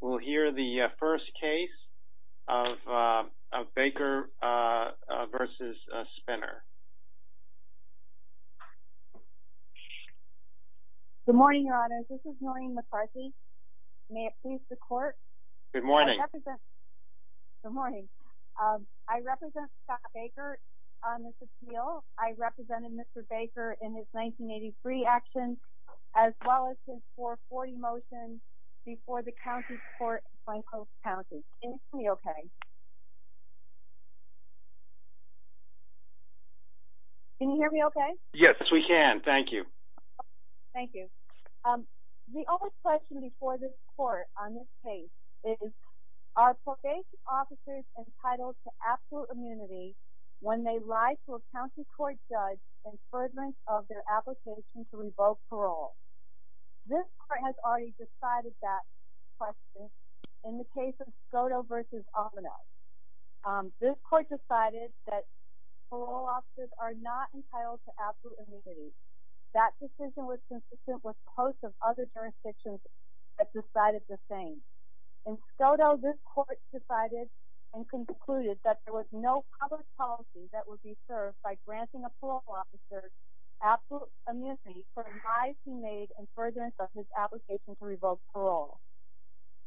We'll hear the first case of Baker v. Spinner Good morning, your honors. This is Noreen McCarthy. May it please the court? Good morning. I represent Scott Baker on this appeal. I represented Mr. Baker in his 1983 action, as well as his 440 motion before the County Court of Flaco County. Can you hear me okay? Yes, we can. Thank you. The only question before this court on this case is, are probation officers entitled to absolute immunity when they lie to a county court judge in furtherance of their application to revoke parole? This court has already decided that question in the case of Skodo v. Almanac. This court decided that parole officers are not entitled to absolute immunity. That decision was consistent with posts of other jurisdictions that decided the same. In Skodo, this court decided and concluded that there was no public policy that would be served by granting a parole officer absolute immunity for lies he made in furtherance of his application to revoke parole.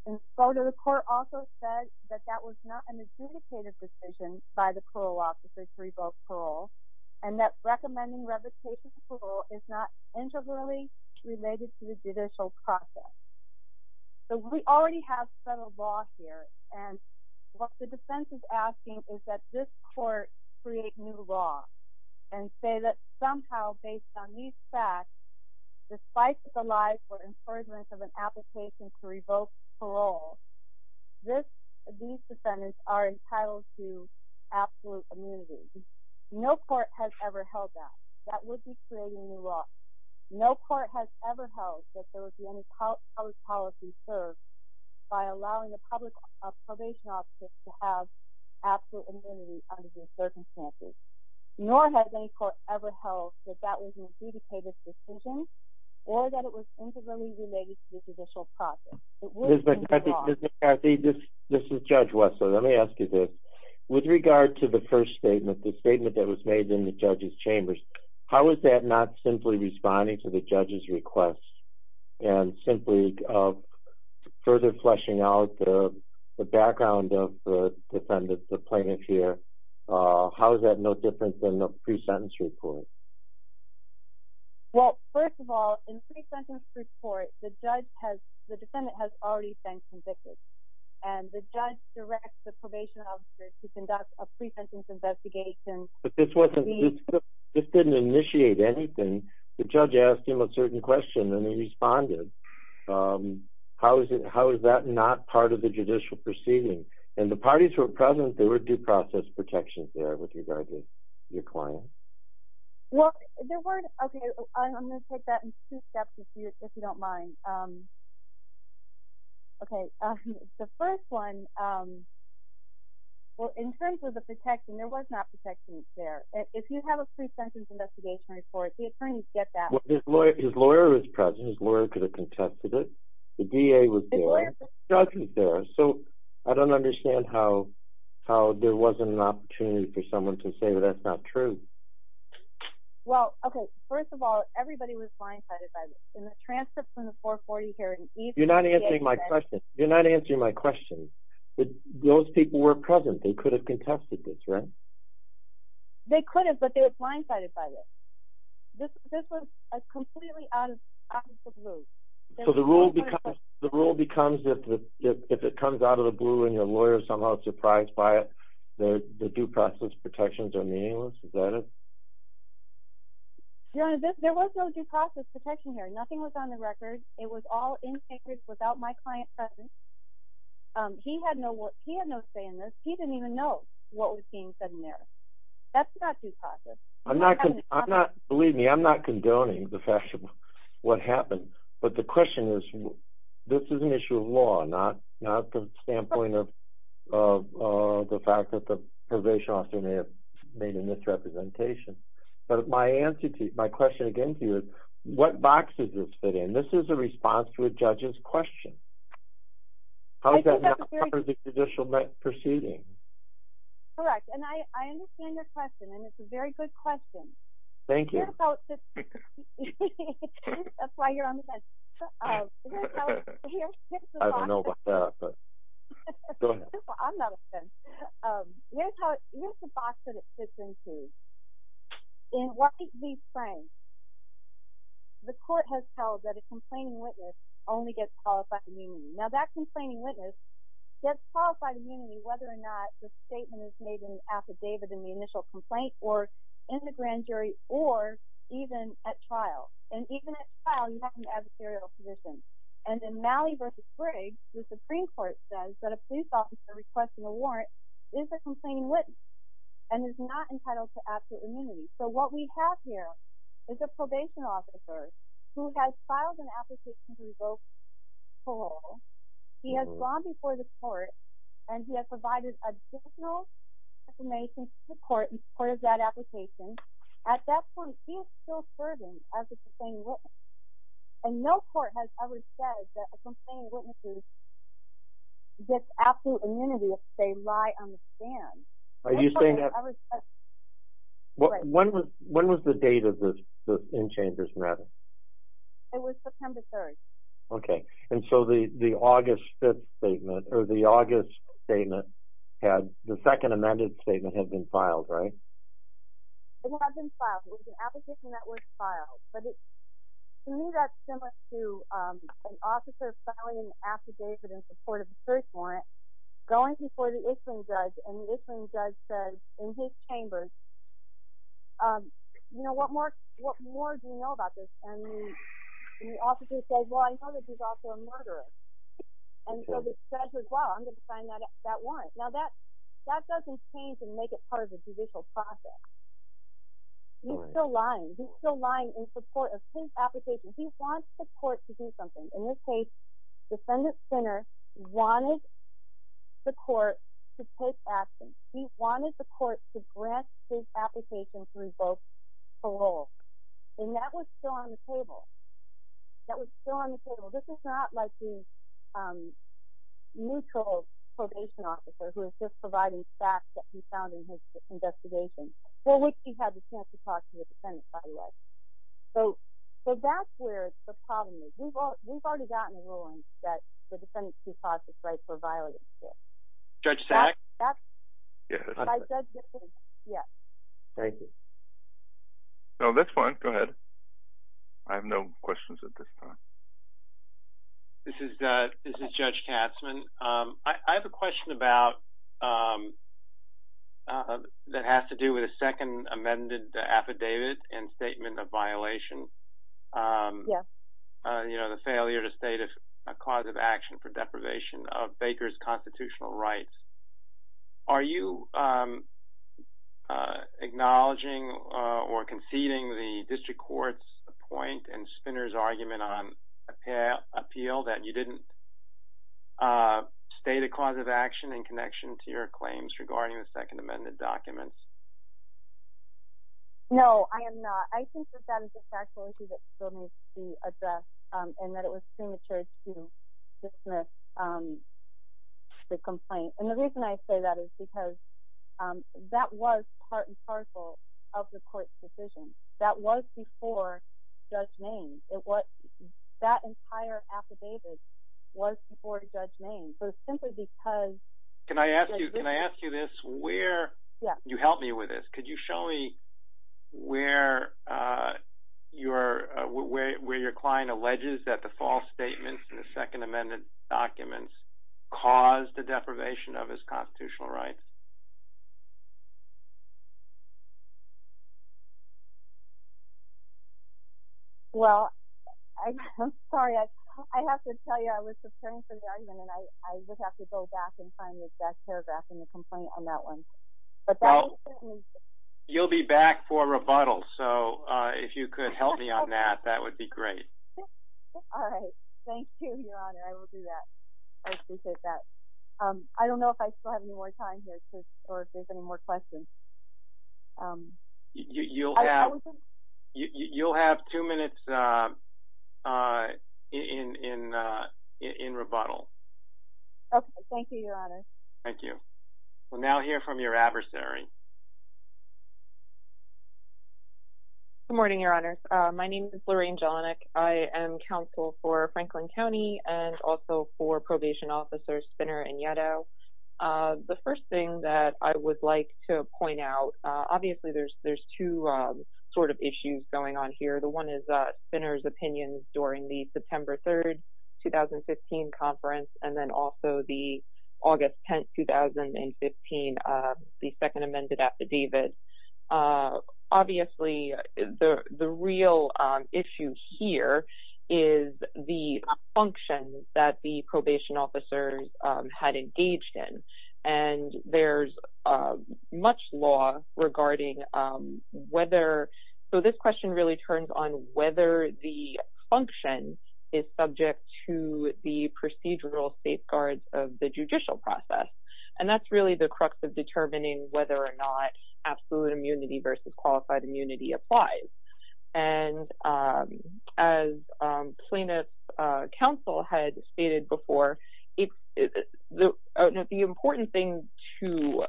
In Skodo, the court also said that that was not an adjudicated decision by the parole officer to revoke parole, and that recommending revocation of parole is not integrally related to the judicial process. So we already have federal law here, and what the defense is asking is that this court create new law and say that somehow, based on these facts, despite the lies or in furtherance of an application to revoke parole, these defendants are entitled to absolute immunity. No court has ever held that. That would be creating new law. No court has ever held that there would be any public policy served by allowing a probation officer to have absolute immunity under these circumstances. Nor has any court ever held that that was an adjudicated decision or that it was integrally related to the judicial process. Mr. McCarthy, this is Judge Wessler. Let me ask you this. With regard to the first statement, the statement that was made in the judge's chambers, how is that not simply responding to the judge's request and simply further fleshing out the background of the defendant's appointment here? How is that no different than the pre-sentence report? Well, first of all, in pre-sentence report, the defendant has already been convicted, and the judge directs the probation officer to conduct a pre-sentence investigation. But this didn't initiate anything. The judge asked him a certain question, and he responded. How is that not part of the judicial proceeding? And the parties who were present, there were due process protections there with regard to your client. Well, there weren't. Okay, I'm going to take that in two steps if you don't mind. Okay, the first one, well, in terms of the protection, there was not protection there. If you have a pre-sentence investigation report, the attorneys get that. His lawyer was present. His lawyer could have contested it. The DA was there. The judge was there. So, I don't understand how there wasn't an opportunity for someone to say that that's not true. Well, okay, first of all, everybody was blindsided by this. In the transcript from the 440 here in East… You're not answering my question. You're not answering my question. Those people were present. They could have contested this, right? They could have, but they were blindsided by this. This was completely out of the blue. So, the rule becomes if it comes out of the blue and your lawyer is somehow surprised by it, the due process protections are meaningless? Is that it? Your Honor, there was no due process protection here. Nothing was on the record. It was all in papers without my client present. He had no say in this. He didn't even know what was being said in there. That's not due process. Believe me, I'm not condoning the fact of what happened, but the question is this is an issue of law, not the standpoint of the fact that the probation officer may have made a misrepresentation. But my question again to you is what box does this fit in? This is a response to a judge's question. How is that not part of the judicial proceeding? Correct, and I understand your question, and it's a very good question. Thank you. That's why you're on the fence. I don't know about that, but go ahead. I'm not a fence. Here's the box that it fits into. In White v. Frank, the court has held that a complaining witness only gets qualified immunity. Now, that complaining witness gets qualified immunity whether or not the statement is made in the affidavit in the initial complaint or in the grand jury or even at trial. And even at trial, you have an adversarial position. And in Malley v. Frigg, the Supreme Court says that a police officer requesting a warrant is a complaining witness and is not entitled to absolute immunity. So what we have here is a probation officer who has filed an application to revoke parole. He has gone before the court, and he has provided additional information to the court in support of that application. At that point, he is still serving as a complaining witness, and no court has ever said that a complaining witness gets absolute immunity if they lie on the stand. When was the date of the inchangers' meeting? It was September 3rd. Okay. And so the August 5th statement, or the August statement, the second amended statement had been filed, right? It had been filed. It was an application that was filed. To me, that's similar to an officer filing an affidavit in support of a search warrant, going before the issuing judge, and the issuing judge says in his chambers, you know, what more do you know about this? And the officer says, well, I know that he's also a murderer. And so the judge says, well, I'm going to sign that warrant. Now, that doesn't change and make it part of the judicial process. He's still lying. He's still lying in support of his application. He wants the court to do something. In this case, defendant Sinner wanted the court to take action. He wanted the court to grant his application to revoke parole. And that was still on the table. That was still on the table. This is not like the neutral probation officer who is just providing facts that he found in his investigation, for which he had the chance to talk to the defendant, by the way. So that's where the problem is. We've already gotten a ruling that the defendant's due process right for violating the court. Judge Sack? Yes. Yes. Thank you. No, that's fine. Go ahead. I have no questions at this time. This is Judge Katzmann. I have a question that has to do with a second amended affidavit and statement of violation. Yes. You know, the failure to state a cause of action for deprivation of Baker's constitutional rights. Are you acknowledging or conceding the district court's point and Spinner's argument on appeal that you didn't state a cause of action in connection to your claims regarding the second amended documents? No, I am not. I think that that is a factual issue that still needs to be addressed and that it was premature to dismiss the complaint. And the reason I say that is because that was part and parcel of the court's decision. That was before Judge Main. That entire affidavit was before Judge Main. Can I ask you this? You helped me with this. Could you show me where your client alleges that the false statements in the second amended documents caused the deprivation of his constitutional rights? Well, I'm sorry. I have to tell you I was preparing for the argument and I would have to go back and find the exact paragraph in the complaint on that one. But that is certainly. You'll be back for a rebuttal. So if you could help me on that, that would be great. All right. Thank you, Your Honor. I will do that. I appreciate that. I don't know if I still have any more time here. Or if there's any more questions. You'll have two minutes in rebuttal. Okay. Thank you, Your Honor. Thank you. We'll now hear from your adversary. Good morning, Your Honor. My name is Lorraine Jelinek. I am counsel for Franklin County and also for Probation Officers Spinner and Yetto. The first thing that I would like to point out, obviously there's two sort of issues going on here. The one is Spinner's opinions during the September 3rd, 2015 conference and then also the August 10th, 2015, the second amended affidavit. Obviously, the real issue here is the function that the probation officers had engaged in. And there's much law regarding whether – so this question really turns on whether the function is subject to the procedural safeguards of the judicial process. And that's really the crux of determining whether or not absolute immunity versus qualified immunity applies. And as plaintiff counsel had stated before, the important thing to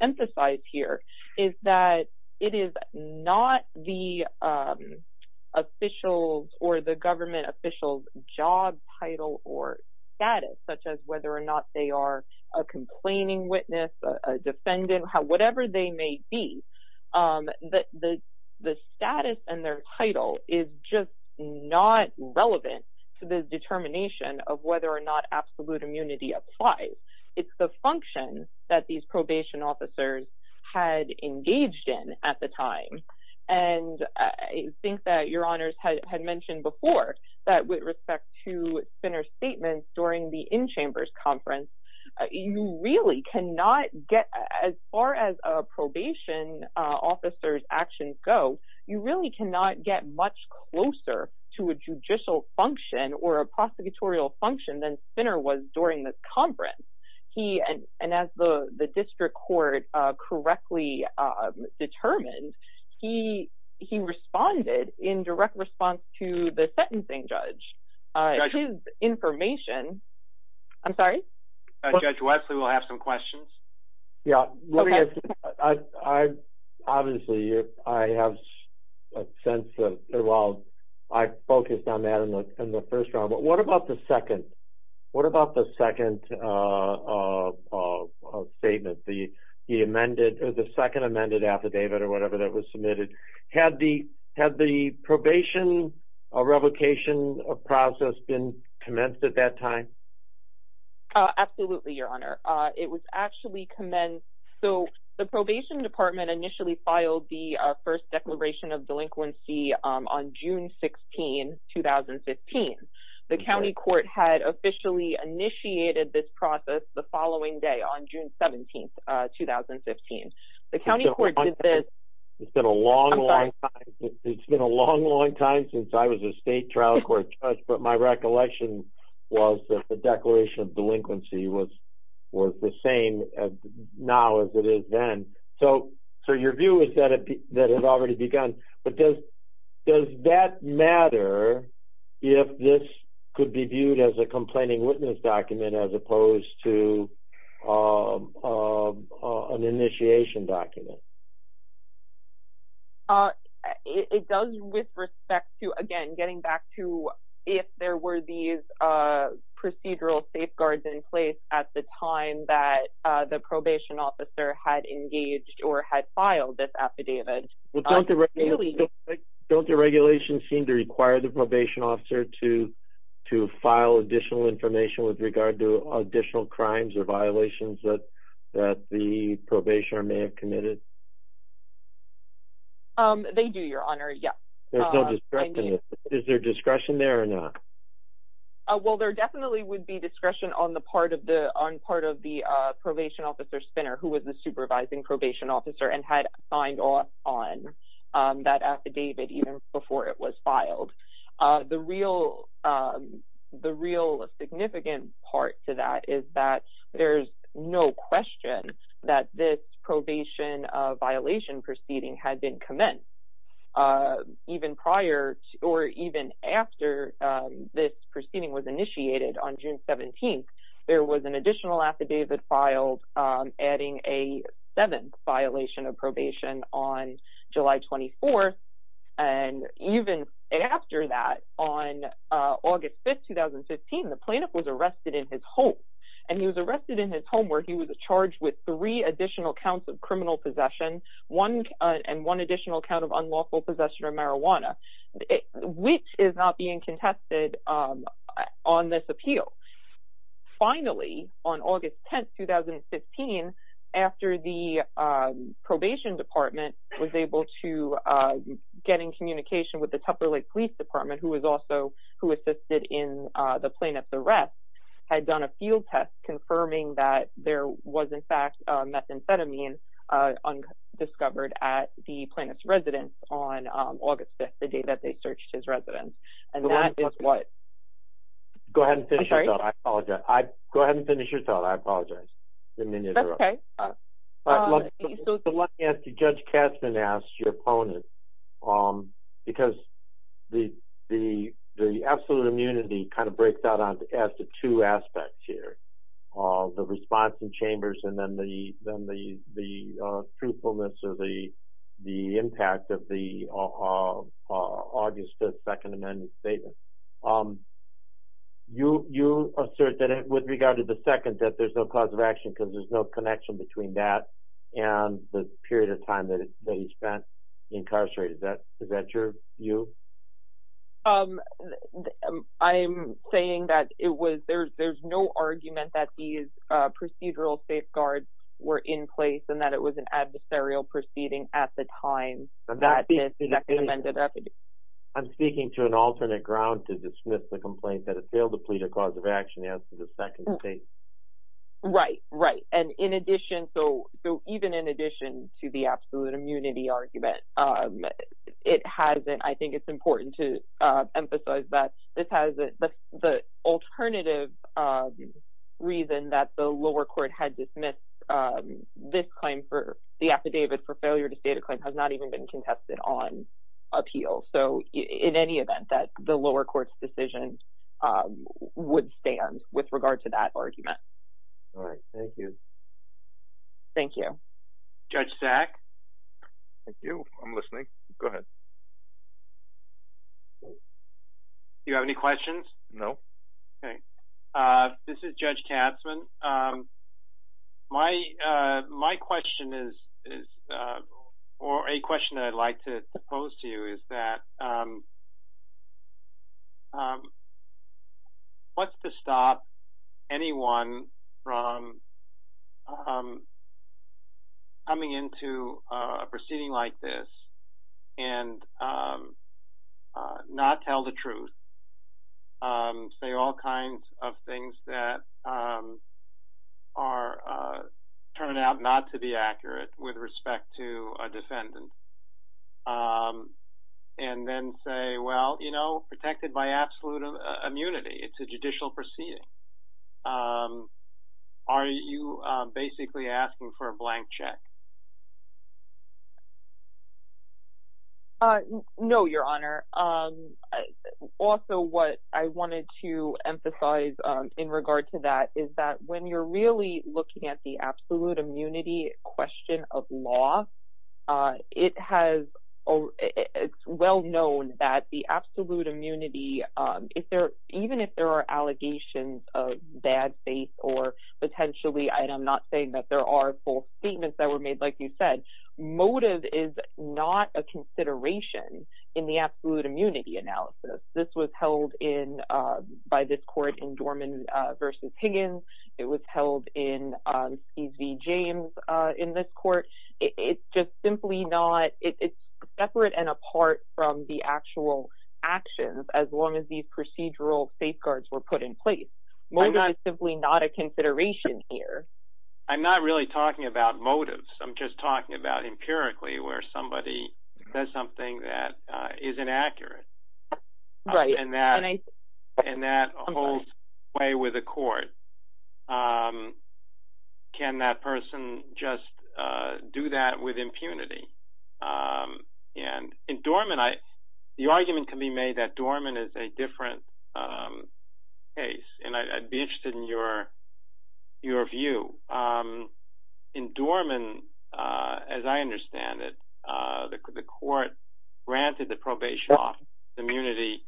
emphasize here is that it is not the officials or the government officials' job title or status, such as whether or not they are a complaining witness, a defendant, whatever they may be. The status and their title is just not relevant to the determination of whether or not absolute immunity applies. It's the function that these probation officers had engaged in at the time. And I think that Your Honors had mentioned before that with respect to Spinner's statements during the in-chambers conference, you really cannot get – as far as probation officers' actions go, you really cannot get much closer to a judicial function or a prosecutorial function than Spinner was during this conference. And as the district court correctly determined, he responded in direct response to the sentencing judge. His information – I'm sorry? Judge Wesley will have some questions. Yeah. Obviously, I have a sense of – well, I focused on that in the first round, but what about the second? The second statement, the amended – or the second amended affidavit or whatever that was submitted, had the probation revocation process been commenced at that time? Absolutely, Your Honor. It was actually commenced – so the probation department initially filed the first declaration of delinquency on June 16, 2015. The county court had officially initiated this process the following day, on June 17, 2015. The county court did this – It's been a long, long time. It's been a long, long time since I was a state trial court judge, but my recollection was that the declaration of delinquency was the same now as it is then. So your view is that it had already begun, but does that matter if this could be viewed as a complaining witness document as opposed to an initiation document? It does with respect to, again, getting back to if there were these procedural safeguards in place at the time that the probation officer had engaged or had filed this affidavit. Don't the regulations seem to require the probation officer to file additional information with regard to additional crimes or violations that the probationer may have committed? They do, Your Honor, yes. There's no discretion. Is there discretion there or not? Well, there definitely would be discretion on the part of the probation officer, Spinner, who was the supervising probation officer and had signed on that affidavit even before it was filed. The real significant part to that is that there's no question that this probation violation proceeding had been commenced. Even prior or even after this proceeding was initiated on June 17th, there was an additional affidavit filed adding a seventh violation of probation on July 24th. Even after that, on August 5th, 2015, the plaintiff was arrested in his home. He was arrested in his home where he was charged with three additional counts of criminal possession and one additional count of unlawful possession of marijuana, which is not being contested on this appeal. Finally, on August 10th, 2015, after the probation department was able to get in communication with the Tupper Lake Police Department, who was also who assisted in the plaintiff's arrest, had done a field test confirming that there was, in fact, methamphetamine discovered at the plaintiff's residence on August 5th, the day that they searched his residence. And that is what? Go ahead and finish your thought. I apologize. I didn't mean to interrupt. That's okay. Let me ask you, Judge Katzman asked your opponent, because the absolute immunity kind of breaks out as the two aspects here, the response in chambers and then the truthfulness of the impact of the August 5th Second Amendment Statement. You assert that with regard to the second, that there's no cause of action because there's no connection between that and the period of time that he spent incarcerated. Is that true, you? I'm saying that it was, there's no argument that these procedural safeguards were in place and that it was an adversarial proceeding at the time. I'm speaking to an alternate ground to dismiss the complaint that it failed to plead a cause of action as to the second statement. Right, right. And in addition, so even in addition to the absolute immunity argument, it has, I think it's important to emphasize that this has, the alternative reason that the lower court had dismissed this claim for the affidavit for failure to state a claim has not even been contested on appeal. So in any event, that the lower court's decision would stand with regard to that argument. All right. Thank you. Thank you. Judge Sack? Thank you. I'm listening. Go ahead. Do you have any questions? No. Okay. This is Judge Katzmann. My question is, or a question that I'd like to pose to you is that, what's to stop anyone from coming into a proceeding like this and not tell the truth? Say all kinds of things that are, turn out not to be accurate with respect to a defendant. And then say, well, you know, protected by absolute immunity. It's a judicial proceeding. Are you basically asking for a blank check? No, Your Honor. Also, what I wanted to emphasize in regard to that is that when you're really looking at the absolute immunity question of law, it has, it's well known that the absolute immunity, even if there are allegations of bad faith or potentially, and I'm not saying that there are full statements that were made, like you said, motive is not a consideration in the absolute immunity analysis. This was held in, by this court in Dorman v. Higgins. It was held in Skies v. James in this court. It's just simply not, it's separate and apart from the actual actions as long as these procedural safeguards were put in place. Motive is simply not a consideration here. I'm not really talking about motives. I'm just talking about empirically where somebody does something that is inaccurate. Right. And that holds sway with the court. Can that person just do that with impunity? And in Dorman, the argument can be made that Dorman is a different case, and I'd be interested in your view. In Dorman, as I understand it, the court granted the probation officer immunity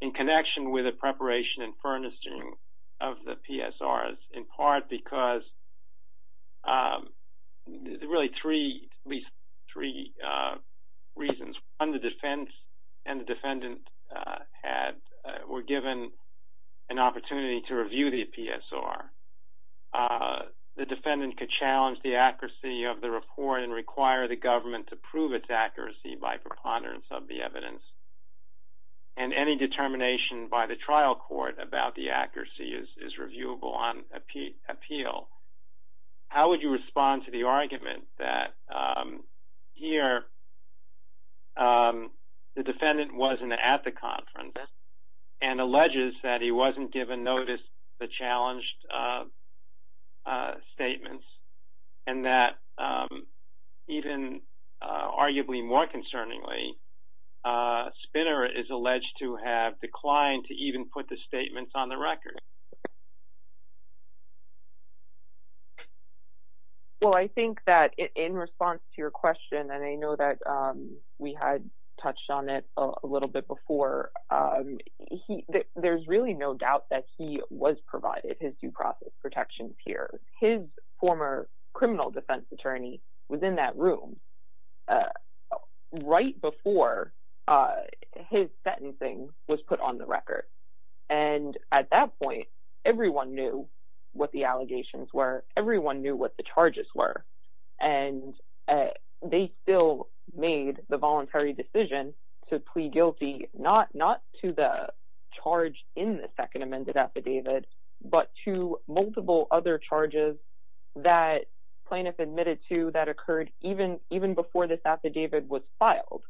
in connection with the preparation and furnishing of the PSRs in part because really three, at least three reasons. One, the defense and the defendant were given an opportunity to review the PSR. The defendant could challenge the accuracy of the report and require the government to prove its accuracy by preponderance of the evidence. And any determination by the trial court about the accuracy is reviewable on appeal. How would you respond to the argument that here the defendant wasn't at the conference and alleges that he wasn't given notice of the challenged statements and that even arguably more concerningly, Spinner is alleged to have declined to even put the statements on the record? Well, I think that in response to your question, and I know that we had touched on it a little bit before, there's really no doubt that he was provided his due process protections here. His former criminal defense attorney was in that room right before his sentencing was put on the record, and at that point, everyone knew what the allegations were. Everyone knew what the charges were, and they still made the voluntary decision to plead guilty, not to the charge in the second amended affidavit, but to multiple other charges that plaintiff admitted to that occurred even before this affidavit was filed.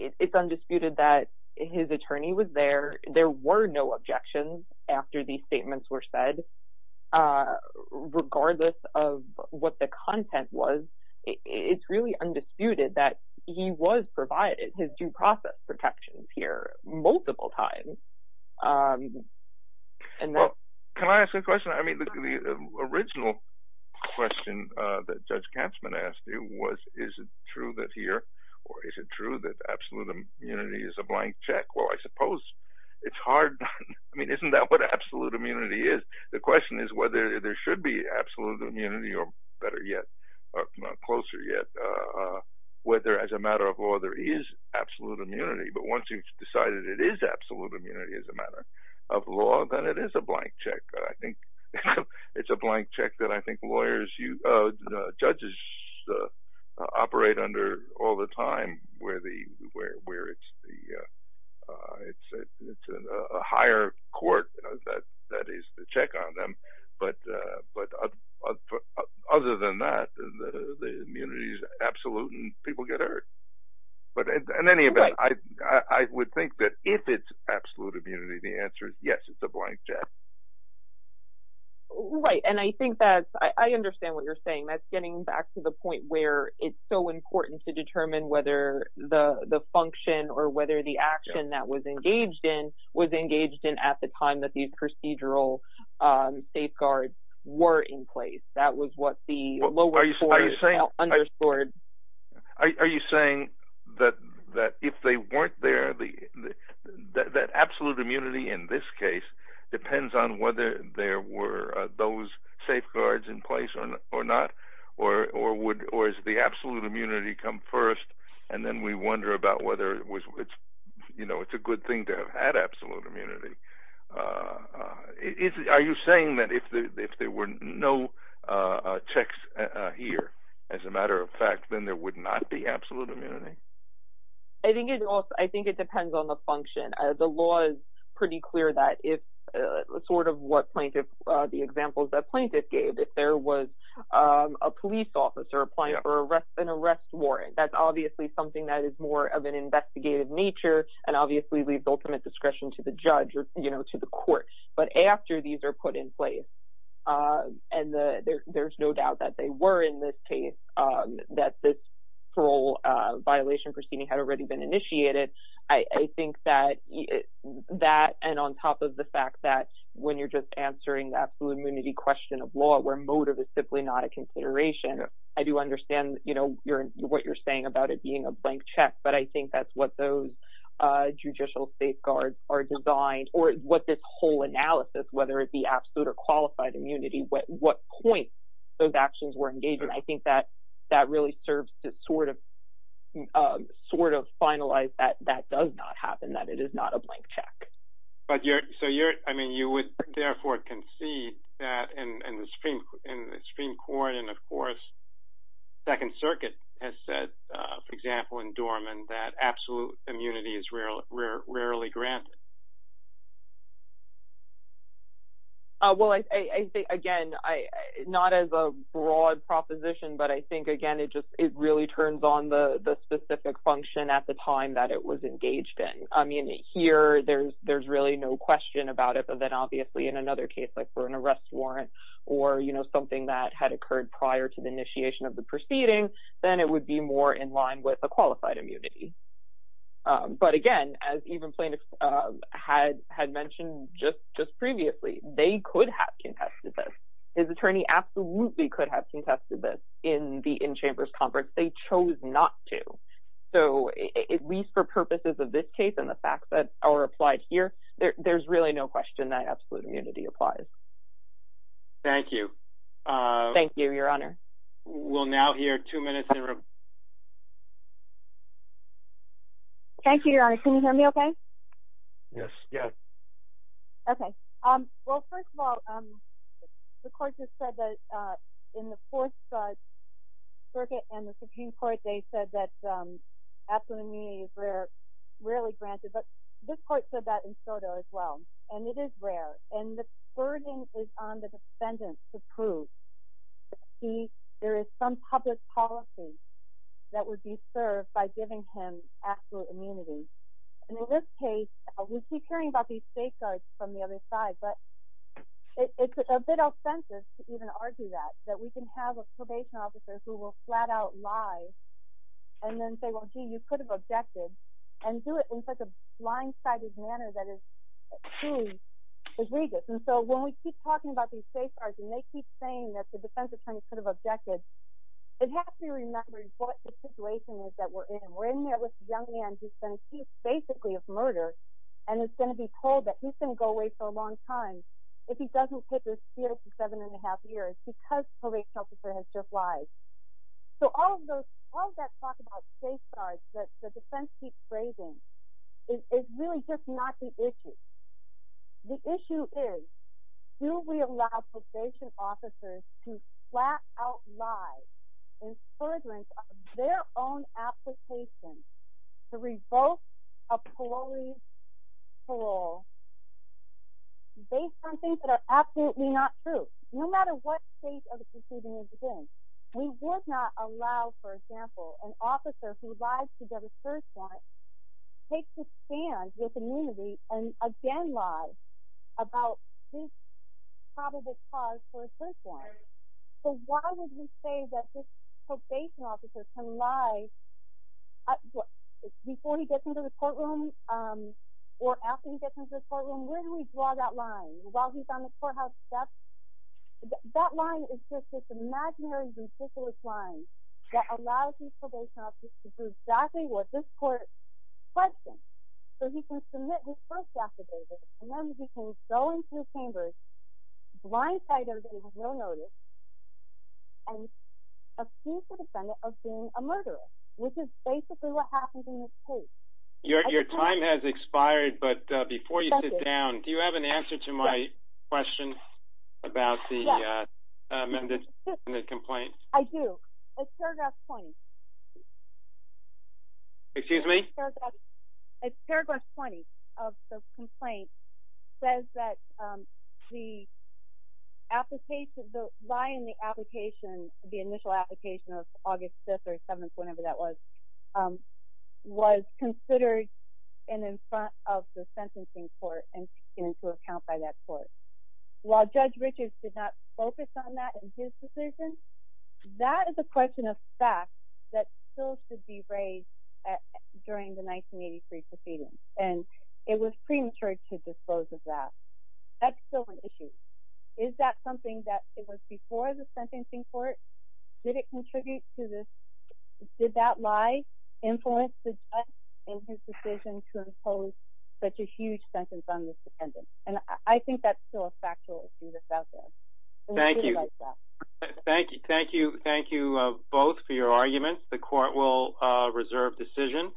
It's undisputed that his attorney was there. There were no objections after these statements were said, regardless of what the content was. It's really undisputed that he was provided his due process protections here multiple times. Well, can I ask a question? I mean, the original question that Judge Katzmann asked you was, is it true that here, or is it true that absolute immunity is a blank check? Well, I suppose it's hard. I mean, isn't that what absolute immunity is? The question is whether there should be absolute immunity, or better yet, or closer yet, whether as a matter of law there is absolute immunity. But once you've decided it is absolute immunity as a matter of law, then it is a blank check. I think it's a blank check that I think judges operate under all the time, where it's a higher court that is to check on them. But other than that, the immunity is absolute, and people get hurt. But in any event, I would think that if it's absolute immunity, the answer is yes, it's a blank check. Right, and I think that's, I understand what you're saying. That's getting back to the point where it's so important to determine whether the function or whether the action that was engaged in was engaged in at the time that these procedural safeguards were in place. That was what the lower court underscored. Are you saying that if they weren't there, that absolute immunity in this case depends on whether there were those safeguards in place or not? Or is the absolute immunity come first, and then we wonder about whether it's a good thing to have had absolute immunity? Are you saying that if there were no checks here, as a matter of fact, then there would not be absolute immunity? I think it depends on the function. The law is pretty clear that if, sort of what plaintiff, the examples that plaintiff gave, if there was a police officer applying for an arrest warrant, that's obviously something that is more of an investigative nature, and obviously leaves ultimate discretion to the judge or to the court. But after these are put in place, and there's no doubt that they were in this case, that this parole violation proceeding had already been initiated, I think that that, and on top of the fact that when you're just answering the absolute immunity question of law, where motive is simply not a consideration, I do understand what you're saying about it being a blank check. But I think that's what those judicial safeguards are designed, or what this whole analysis, whether it be absolute or qualified immunity, what point those actions were engaged in, I think that that really serves to sort of finalize that that does not happen, that it is not a blank check. But you're, so you're, I mean, you would therefore concede that in the Supreme Court, and of course, Second Circuit has said, for example, in Dorman, that absolute immunity is rarely granted. Well, I think, again, not as a broad proposition, but I think, again, it just, it really turns on the specific function at the time that it was engaged in. I mean, here, there's really no question about it, but then obviously, in another case, like for an arrest warrant, or, you know, something that had occurred prior to the initiation of the proceeding, then it would be more in line with a qualified immunity. But again, as even plaintiffs had mentioned just previously, they could have contested this. His attorney absolutely could have contested this in the in-chambers conference. They chose not to. So at least for purposes of this case and the facts that are applied here, there's really no question that absolute immunity applies. Thank you. Thank you, Your Honor. We'll now hear two minutes in review. Thank you, Your Honor. Can you hear me okay? Yes. Yeah. Okay. Well, first of all, the court just said that in the Fourth Circuit and the Supreme Court, they said that absolute immunity is rarely granted. But this court said that in Soto as well, and it is rare. And the burden is on the defendant to prove. There is some public policy that would be served by giving him absolute immunity. And in this case, we keep hearing about these safeguards from the other side, but it's a bit ostentatious to even argue that, that we can have a probation officer who will flat-out lie and then say, well, gee, you could have objected, and do it in such a blindsided manner that is too egregious. And so when we keep talking about these safeguards and they keep saying that the defense attorney could have objected, it has to be remembered what the situation is that we're in. We're in there with a young man who's been accused basically of murder, and is going to be told that he's going to go away for a long time if he doesn't take his CO for seven and a half years because probation officer has just lied. So all of that talk about safeguards that the defense keeps raising is really just not the issue. The issue is, do we allow probation officers to flat-out lie in furtherance of their own application to revoke a parolee's parole based on things that are absolutely not true? No matter what stage of the proceeding is in, we would not allow, for example, an officer who lies to get a first warrant, takes a stand with immunity, and again lies about his probable cause for a first warrant. So why would we say that this probation officer can lie before he gets into the courtroom or after he gets into the courtroom? Where do we draw that line? While he's on the courthouse steps? That line is just this imaginary, ridiculous line that allows these probation officers to do exactly what this court questions. So he can submit his first affidavit, and then he can go into the chambers, blindside everybody with no notice, and accuse the defendant of being a murderer, which is basically what happens in this case. Your time has expired, but before you sit down, do you have an answer to my question about the amended complaint? I do. Paragraph 20. Excuse me? Paragraph 20 of the complaint says that the application, the lie in the application, the initial application of August 5th or 7th, whenever that was, was considered in front of the sentencing court and taken into account by that court. While Judge Richards did not focus on that in his decision, that is a question of fact that still should be raised during the 1983 proceedings, and it was premature to dispose of that. That's still an issue. Is that something that was before the sentencing court? Did it contribute to this? Did that lie influence the judge in his decision to impose such a huge sentence on this defendant? And I think that's still a factual issue that's out there. Thank you. Thank you both for your arguments. The court will reserve decision.